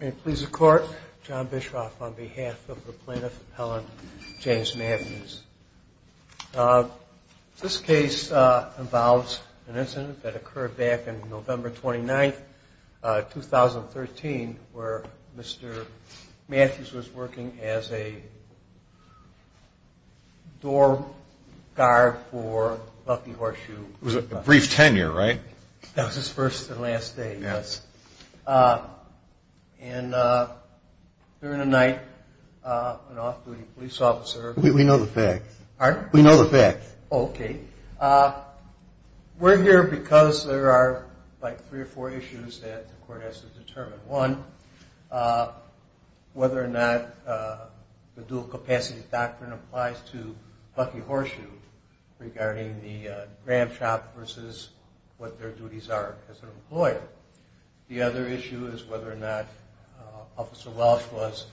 May it please the Court, John Bischoff on behalf of the Plaintiff Appellant James Matthews. This case involves an incident that occurred back in November 29, 2013, where Mr. Matthews was working as a door guard for Bucky Horseshoe. It was a brief tenure, right? That was his first and last day, yes. And during the night, an off-duty police officer... We know the facts. Pardon? We know the facts. Okay. We're here because there are, like, three or four issues that the Court has to determine. One, whether or not the dual-capacity doctrine applies to Bucky Horseshoe regarding the gram shop versus what their duties are as an employer. The other issue is whether or not Officer Welch was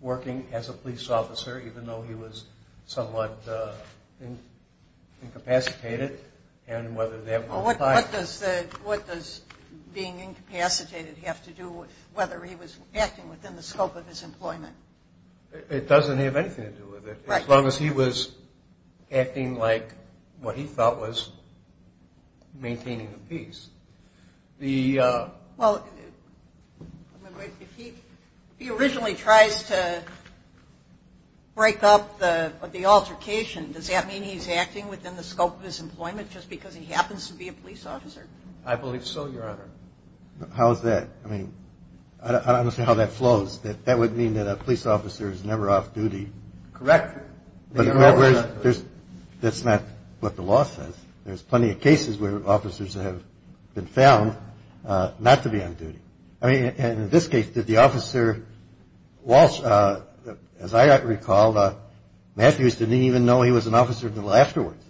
working as a police officer, even though he was somewhat incapacitated, and whether that... What does being incapacitated have to do with whether he was acting within the scope of his employment? It doesn't have anything to do with it. As long as he was acting like what he thought was maintaining the peace. Well, if he originally tries to break up the altercation, does that mean he's acting within the scope of his employment just because he happens to be a police officer? I believe so, Your Honor. How is that? I mean, I don't understand how that flows. That would mean that a police officer is never off-duty. Correct. That's not what the law says. There's plenty of cases where officers have been found not to be on duty. I mean, in this case, did the officer, Welch, as I recall, Matthews didn't even know he was an officer until afterwards,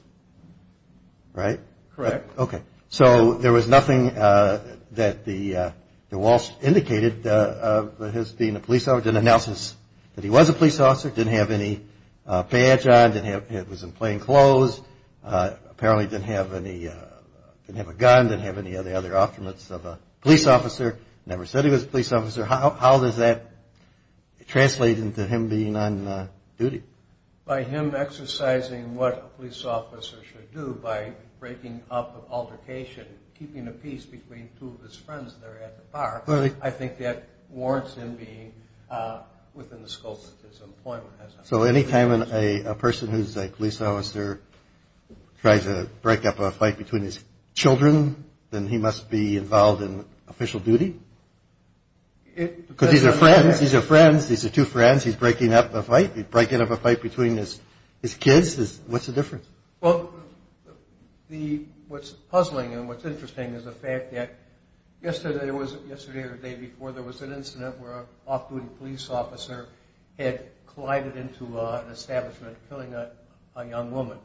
right? Correct. Okay. So there was nothing that the Walsh indicated of his being a police officer. Didn't announce that he was a police officer. Didn't have any badge on. It was in plain clothes. Apparently didn't have a gun. Didn't have any other offerments of a police officer. Never said he was a police officer. How does that translate into him being on duty? By him exercising what a police officer should do by breaking up an altercation, keeping a peace between two of his friends that are at the bar, I think that warrants him being within the scope of his employment. So any time a person who's a police officer tries to break up a fight between his children, then he must be involved in official duty? Because these are friends. These are friends. These are two friends. He's breaking up a fight. He's breaking up a fight between his kids. What's the difference? Well, what's puzzling and what's interesting is the fact that yesterday or the day before, there was an incident where an off-duty police officer had collided into an establishment killing a young woman.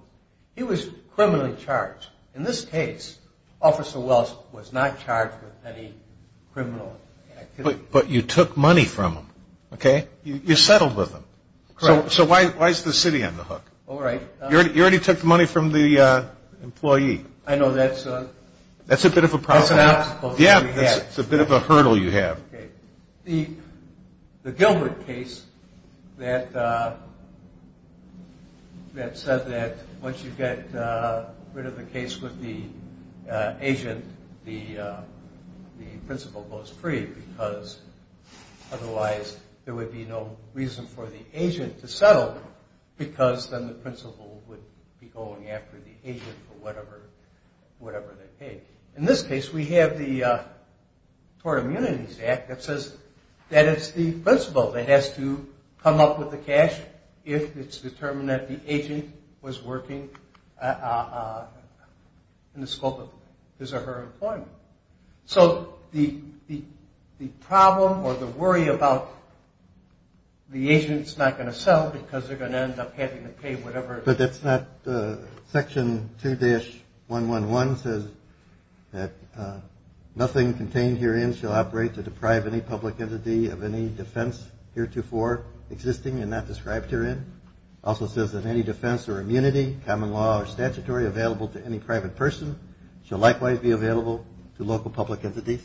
He was criminally charged. In this case, Officer Walsh was not charged with any criminal activity. But you took money from him, okay? You settled with him. Correct. So why is the city on the hook? All right. You already took the money from the employee. I know. That's a bit of a problem. That's an obstacle. Yeah, it's a bit of a hurdle you have. Okay. The Gilbert case that said that once you get rid of the case with the agent, the principal goes free because otherwise there would be no reason for the agent to settle because then the principal would be going after the agent for whatever they paid. In this case, we have the Tort Immunities Act that says that it's the principal that has to come up with the cash if it's determined that the agent was working in the scope of his or her employment. So the problem or the worry about the agent's not going to sell because they're going to end up having to pay whatever. But that's not section 2-111 says that nothing contained herein shall operate to deprive any public entity of any defense heretofore existing and not described herein. It also says that any defense or immunity, common law or statutory, available to any private person shall likewise be available to local public entities.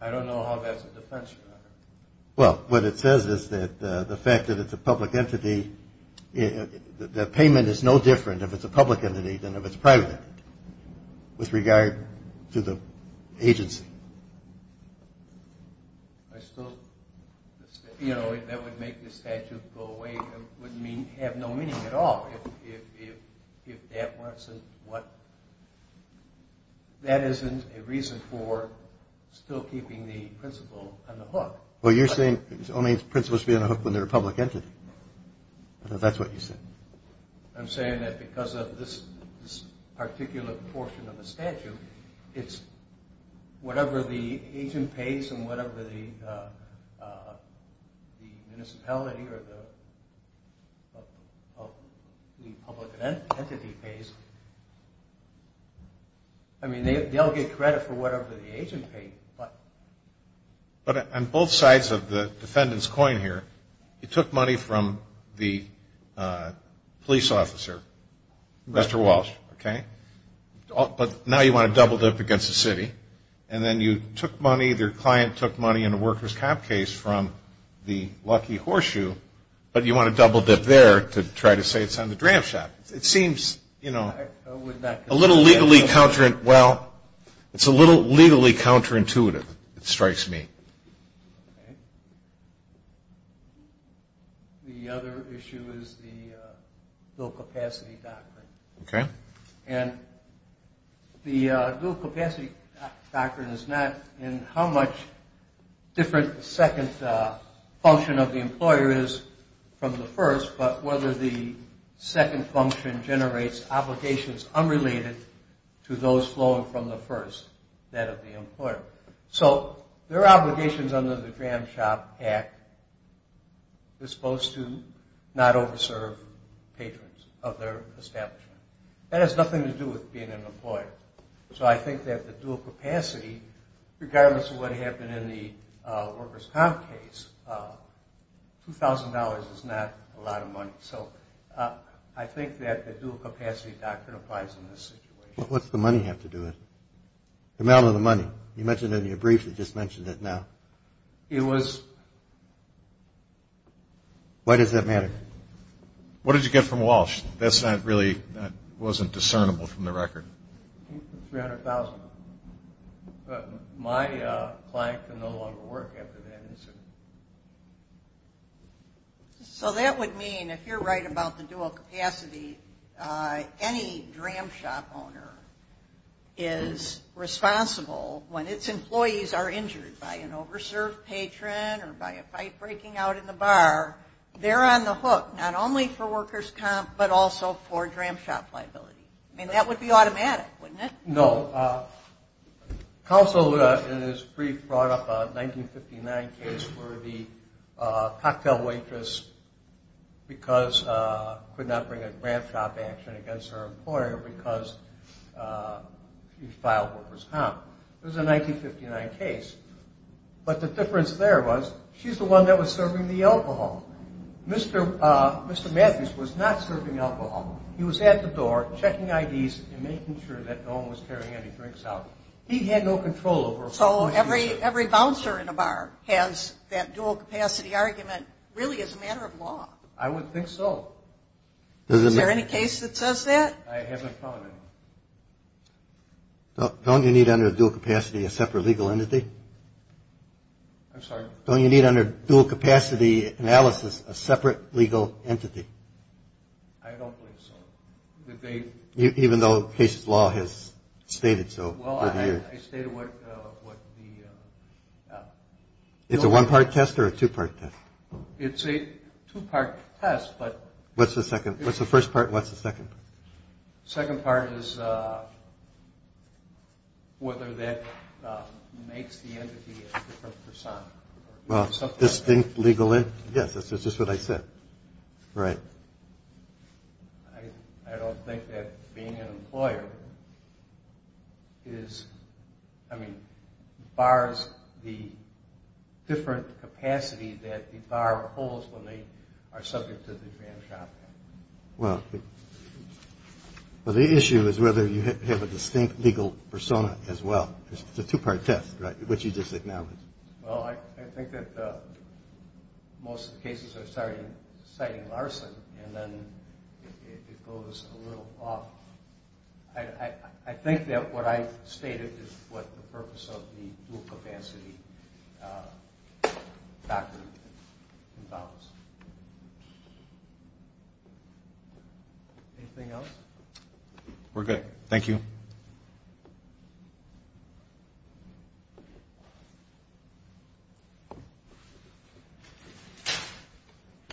I don't know how that's a defense. Well, what it says is that the fact that it's a public entity, the payment is no different if it's a public entity than if it's a private entity with regard to the agency. I still, you know, that would make the statute go away. It would have no meaning at all if that wasn't what, that isn't a reason for still keeping the principal on the hook. Well, you're saying only the principal should be on the hook when they're a public entity. I thought that's what you said. I'm saying that because of this particular portion of the statute, it's whatever the agent pays and whatever the municipality or the public entity pays, I mean, they'll get credit for whatever the agent paid. But on both sides of the defendant's coin here, you took money from the police officer, Mr. Walsh, okay? But now you want to double dip against the city. And then you took money, their client took money in a worker's comp case from the lucky horseshoe, but you want to double dip there to try to say it's on the dram shop. It seems, you know, a little legally counterintuitive. It strikes me. The other issue is the dual capacity doctrine. Okay. And the dual capacity doctrine is not in how much different the second function of the employer is from the first, but whether the second function generates obligations unrelated to those flowing from the first, that of the employer. So there are obligations under the Dram Shop Act that's supposed to not over-serve patrons of their establishment. That has nothing to do with being an employer. So I think that the dual capacity, regardless of what happened in the worker's comp case, $2,000 is not a lot of money. So I think that the dual capacity doctrine applies in this situation. What's the money have to do with it? The amount of the money. You mentioned it in your brief. You just mentioned it now. It was. Why does that matter? What did you get from Walsh? That wasn't discernible from the record. $300,000. My client can no longer work after that incident. So that would mean, if you're right about the dual capacity, any Dram Shop owner is responsible when its employees are injured by an over-served patron or by a pipe breaking out in the bar. They're on the hook, not only for worker's comp, but also for Dram Shop liability. I mean, that would be automatic, wouldn't it? No. Counsel in his brief brought up a 1959 case where the cocktail waitress could not bring a Dram Shop action against her employer because she filed worker's comp. It was a 1959 case. But the difference there was, she's the one that was serving the alcohol. Mr. Matthews was not serving alcohol. He was at the door checking IDs and making sure that no one was carrying any drinks out. He had no control over what he was doing. So every bouncer in a bar has that dual capacity argument really as a matter of law. I would think so. Is there any case that says that? I haven't found any. Don't you need under dual capacity a separate legal entity? I'm sorry? Don't you need under dual capacity analysis a separate legal entity? I don't believe so. Even though case law has stated so over the years? Well, I stated what the... It's a one-part test or a two-part test? It's a two-part test, but... What's the first part and what's the second part? The second part is whether that makes the entity a different persona. Well, distinct legal entity? Yes, that's just what I said. Right. I don't think that being an employer is... I mean, bars, the different capacity that the bar holds when they are subject to the Trans-Job Act. Well, the issue is whether you have a distinct legal persona as well. It's a two-part test, right, which you just acknowledged. Well, I think that most of the cases are citing larceny, and then it goes a little off. I think that what I stated is what the purpose of the dual-capacity doctrine involves. Anything else? We're good. Thank you.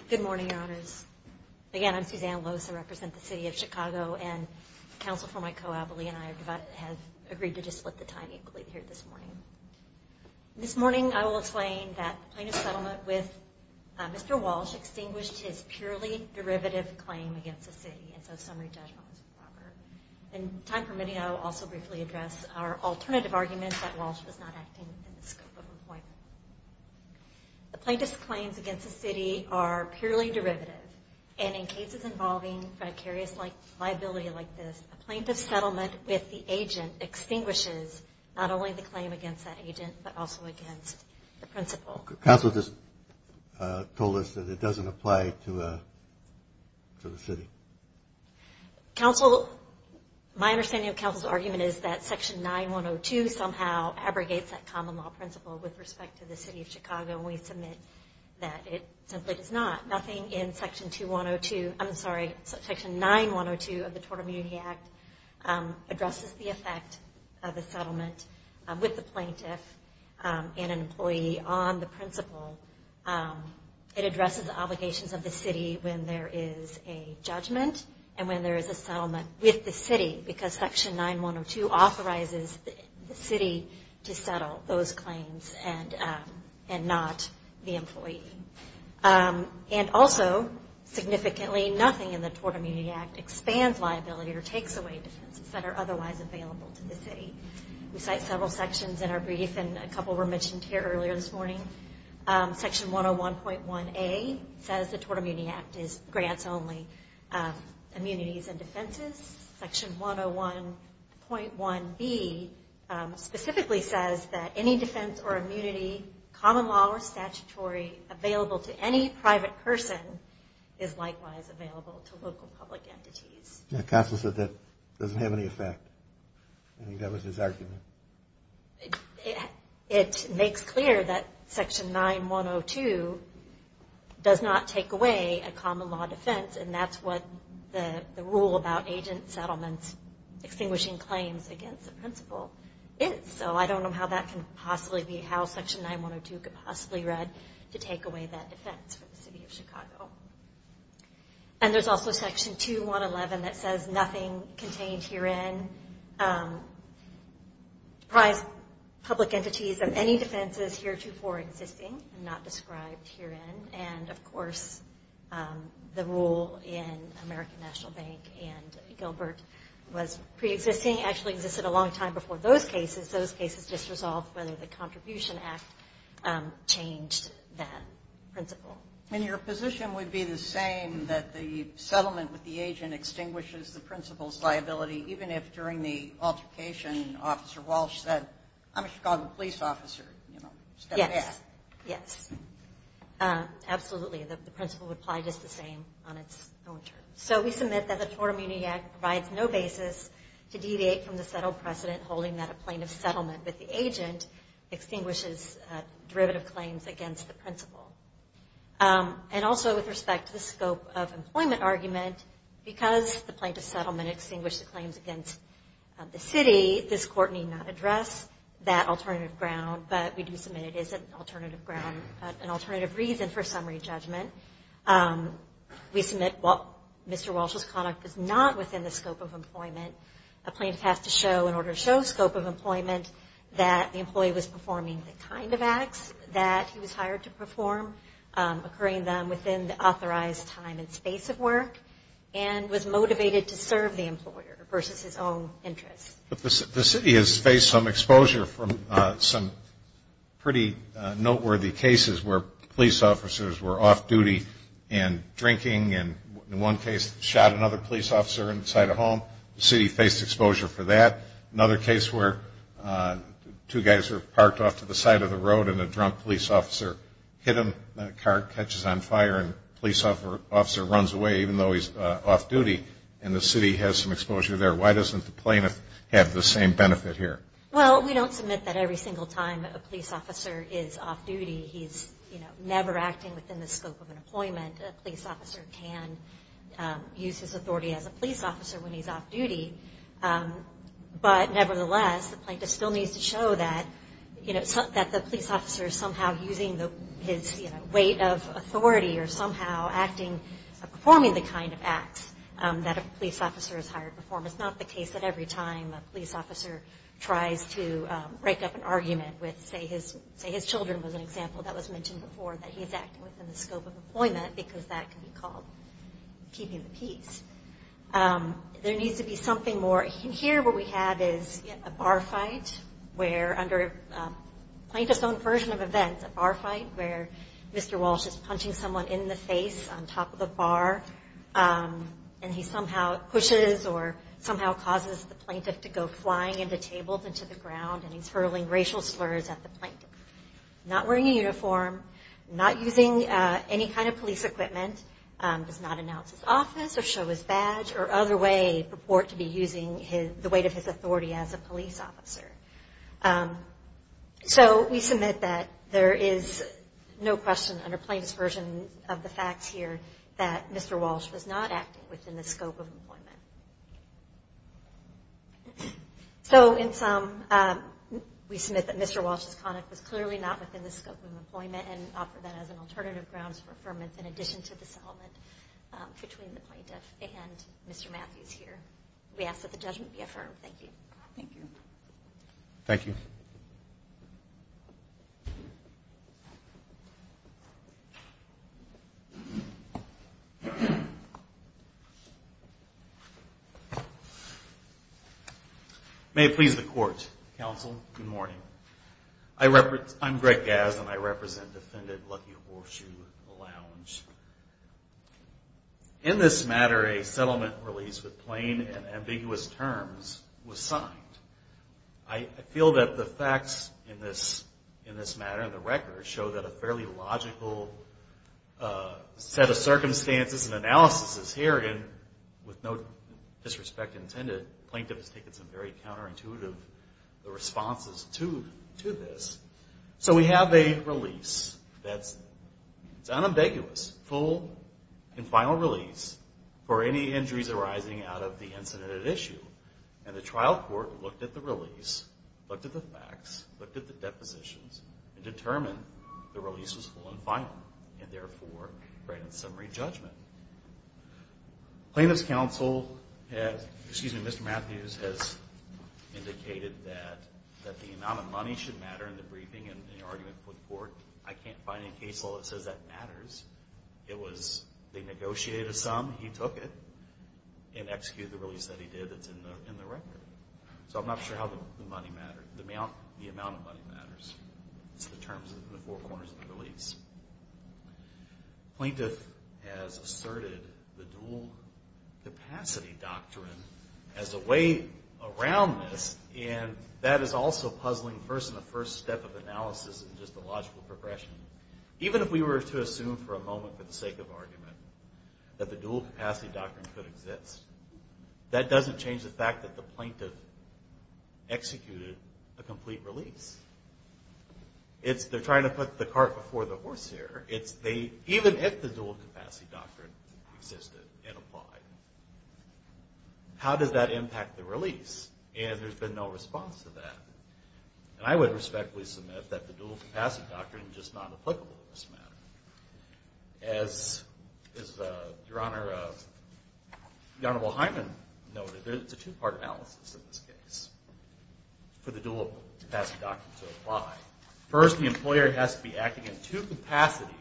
Good morning, Your Honors. Again, I'm Suzanne Lose. I represent the city of Chicago, and counsel for my co-advocate and I have agreed to just split the time equally here this morning. This morning, I will explain that the plaintiff's settlement with Mr. Walsh extinguished his purely derivative claim against the city, and so summary judgment is proper. In time permitting, I will also briefly address our alternative argument that Walsh was not acting in the scope of employment. The plaintiff's claims against the city are purely derivative, and in cases involving vicarious liability like this, a plaintiff's settlement with the agent extinguishes not only the claim against that agent, but also against the principal. Counsel just told us that it doesn't apply to the city. Counsel, my understanding of counsel's argument is that Section 9-102 somehow abrogates that common law principle with respect to the city of Chicago, and we submit that it simply does not. Nothing in Section 2-102, I'm sorry, Section 9-102 of the Total Immunity Act, addresses the effect of the settlement with the plaintiff and an employee on the principle. It addresses the obligations of the city when there is a judgment and when there is a settlement with the city, because Section 9-102 authorizes the city to settle those claims and not the employee. And also, significantly, nothing in the Total Immunity Act expands liability or takes away defenses that are otherwise available to the city. We cite several sections in our brief, and a couple were mentioned here earlier this morning. Section 101.1A says the Total Immunity Act grants only immunities and defenses. Section 101.1B specifically says that any defense or immunity, common law or statutory, available to any private person is likewise available to local public entities. Counsel said that doesn't have any effect. I think that was his argument. It makes clear that Section 9-102 does not take away a common law defense, and that's what the rule about agent settlements extinguishing claims against the principle is. So I don't know how that can possibly be, how Section 9-102 could possibly read to take away that defense for the city of Chicago. And there's also Section 2-111 that says nothing contained herein. Deprives public entities of any defenses heretofore existing and not described herein. And, of course, the rule in American National Bank and Gilbert was preexisting, actually existed a long time before those cases. Those cases just resolved whether the Contribution Act changed that principle. And your position would be the same, that the settlement with the agent extinguishes the principle's liability, even if during the altercation Officer Walsh said, I'm a Chicago police officer, you know, step back. Yes. Yes. Absolutely. The principle would apply just the same on its own terms. So we submit that the Tort Immunity Act provides no basis to deviate from the settled precedent holding that a plaintiff's settlement with the agent extinguishes derivative claims against the principle. And also with respect to the scope of employment argument, because the plaintiff's settlement extinguished the claims against the city, this court need not address that alternative ground, but we do submit it is an alternative ground, an alternative reason for summary judgment. We submit, well, Mr. Walsh's conduct is not within the scope of employment. A plaintiff has to show, in order to show scope of employment, that the employee was performing the kind of acts that he was hired to perform, occurring then within the authorized time and space of work, and was motivated to serve the employer versus his own interests. The city has faced some exposure from some pretty noteworthy cases where police officers were off-duty and drinking, and in one case shot another police officer inside a home. The city faced exposure for that. Another case where two guys are parked off to the side of the road and a drunk police officer hit him, and a car catches on fire, and the police officer runs away, even though he's off-duty, and the city has some exposure there. Why doesn't the plaintiff have the same benefit here? Well, we don't submit that every single time a police officer is off-duty he's, you know, never acting within the scope of employment. A police officer can use his authority as a police officer when he's off-duty. But, nevertheless, the plaintiff still needs to show that, you know, that the police officer is somehow using his, you know, weight of authority, or somehow acting, performing the kind of acts that a police officer is hired to perform. It's not the case that every time a police officer tries to break up an argument with, say, his children was an example that was mentioned before, that he's acting within the scope of employment, because that can be called keeping the peace. There needs to be something more. Here what we have is a bar fight where, under a plaintiff's own version of events, a bar fight where Mr. Walsh is punching someone in the face on top of the bar, and he somehow pushes or somehow causes the plaintiff to go flying into tables and to the ground, and he's hurling racial slurs at the plaintiff. Not wearing a uniform, not using any kind of police equipment, does not announce his office or show his badge or other way purport to be using the weight of his authority as a police officer. So we submit that there is no question under plaintiff's version of the facts here that Mr. Walsh was not acting within the scope of employment. So in sum, we submit that Mr. Walsh's conduct was clearly not within the scope of employment and offer that as an alternative grounds for affirmation in addition to the settlement between the plaintiff and Mr. Matthews here. We ask that the judgment be affirmed. Thank you. May it please the court, counsel, good morning. I'm Greg Gass and I represent Defendant Lucky Horseshoe Lounge. In this matter, a settlement release with plain and ambiguous terms was signed. I feel that the facts in this matter and the record show that a fairly logical set of circumstances and analysis is herein with no doubt. With all due respect intended, the plaintiff has taken some very counterintuitive responses to this. So we have a release that's unambiguous, full and final release for any injuries arising out of the incident at issue. And the trial court looked at the release, looked at the facts, looked at the depositions and determined the release was full and final and therefore granted summary judgment. Plaintiff's counsel, excuse me, Mr. Matthews has indicated that the amount of money should matter in the briefing and the argument put forth. I can't find any case law that says that matters. It was, they negotiated a sum, he took it and executed the release that he did that's in the record. So I'm not sure how the money mattered. The amount of money matters. It's the terms of the four corners of the release. The court asserted the dual capacity doctrine as a way around this and that is also puzzling first in the first step of analysis and just a logical progression. Even if we were to assume for a moment for the sake of argument that the dual capacity doctrine could exist, that doesn't change the fact that the plaintiff executed a complete release. It's, they're trying to put the cart before the horse here. The dual capacity doctrine existed and applied. How does that impact the release? And there's been no response to that. And I would respectfully submit that the dual capacity doctrine is just not applicable in this matter. As Your Honor, the Honorable Hyman noted, it's a two-part analysis in this case for the dual capacity doctrine to apply. First the employer has to be acting in two capacities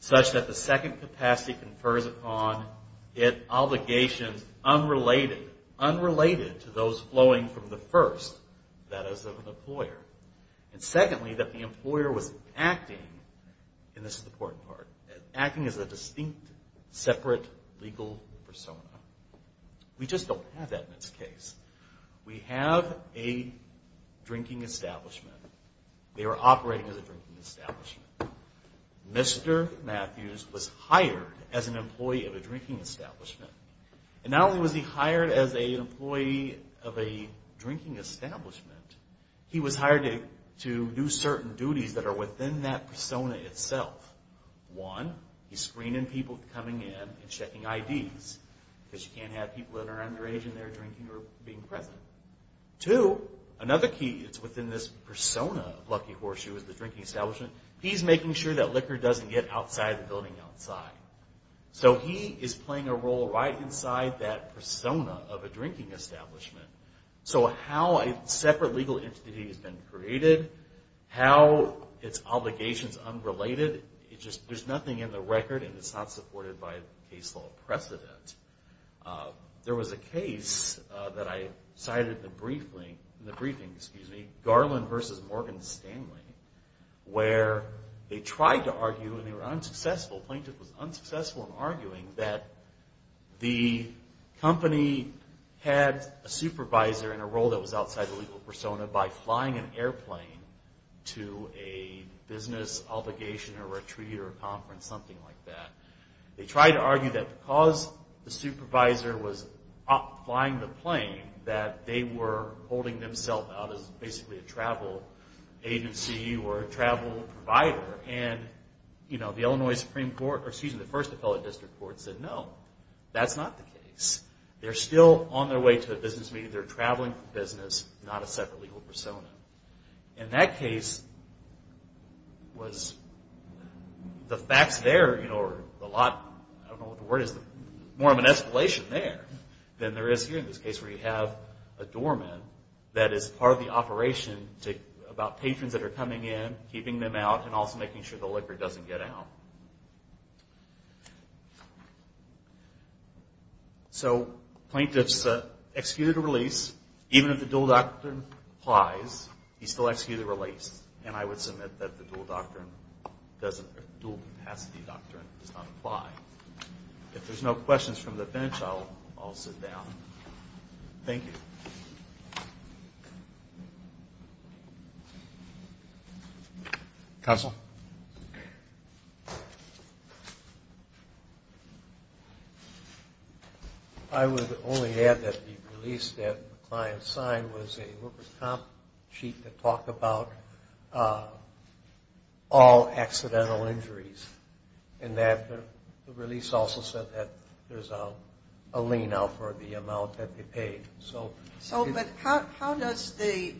such that the second capacity confirms the first. It occurs upon it obligations unrelated to those flowing from the first, that is of an employer. And secondly, that the employer was acting, and this is the important part, acting as a distinct separate legal persona. We just don't have that in this case. We have a drinking establishment. They were operating as a drinking establishment. Mr. Matthews was hired as an employee of a drinking establishment. And not only was he hired as an employee of a drinking establishment, he was hired to do certain duties that are within that persona itself. One, he's screening people coming in and checking IDs, because you can't have people that are underage and they're drinking or being present. Two, another key that's within this persona of Lucky Horseshoe is the drinking establishment. He's making sure that liquor doesn't get outside the building outside. So he is playing a role right inside that persona of a drinking establishment. So how a separate legal entity has been created, how its obligations unrelated, there's nothing in the record and it's not supported by a case law precedent. There's a case that I cited in the briefing, Garland v. Morgan Stanley, where they tried to argue, and they were unsuccessful, the plaintiff was unsuccessful in arguing, that the company had a supervisor in a role that was outside the legal persona by flying an airplane to a business obligation or retreat or conference, something like that. They tried to argue that because the supervisor was flying the plane, that they were holding themselves out as basically a travel agency or a travel provider. And the first appellate district court said, no, that's not the case. They're still on their way to a business meeting. So there's a lot, I don't know what the word is, more of an escalation there than there is here in this case where you have a doorman that is part of the operation about patrons that are coming in, keeping them out, and also making sure the liquor doesn't get out. So plaintiff's executed a release, even if the dual doctrine applies, he's still executed a release. And I would submit that the dual capacity doctrine does not apply. If there's no questions from the bench, I'll sit down. Thank you. Counsel? I'm just curious about the release of all accidental injuries and that the release also said that there's a lien out for the amount that they paid. So how does the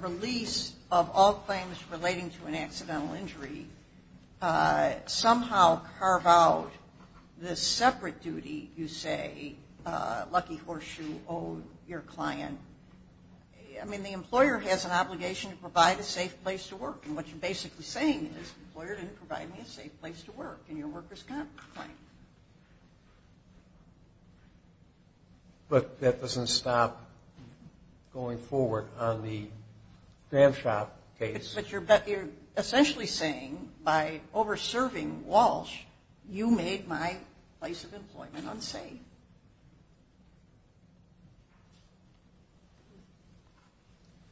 release of all claims relating to an accidental injury somehow carve out the separate duty, you say, lucky horseshoe, oh, your client? I mean, the employer has an obligation to provide a safe place to work, and what you're basically saying is, the employer didn't provide me a safe place to work, and your worker's got a claim. But that doesn't stop going forward on the Gramshop case. But you're essentially saying, by over-serving Walsh, you made my place of employment unsafe.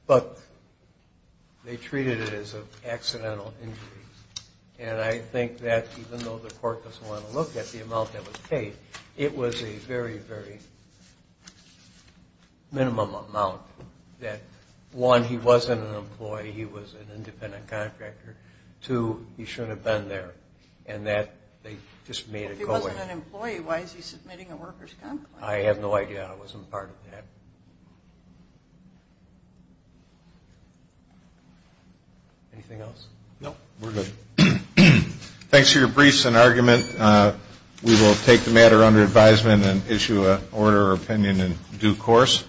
But they treated it as an accidental injury. And I think that even though the court doesn't want to look at the amount that was paid, it was a very, very minimum amount that, one, he wasn't an employee, he was an independent contractor. Two, he shouldn't have been there, and that they just made it go away. If he wasn't an employee, why is he submitting a worker's complaint? Thanks for your briefs and argument. We will take the matter under advisement and issue an order of opinion in due course.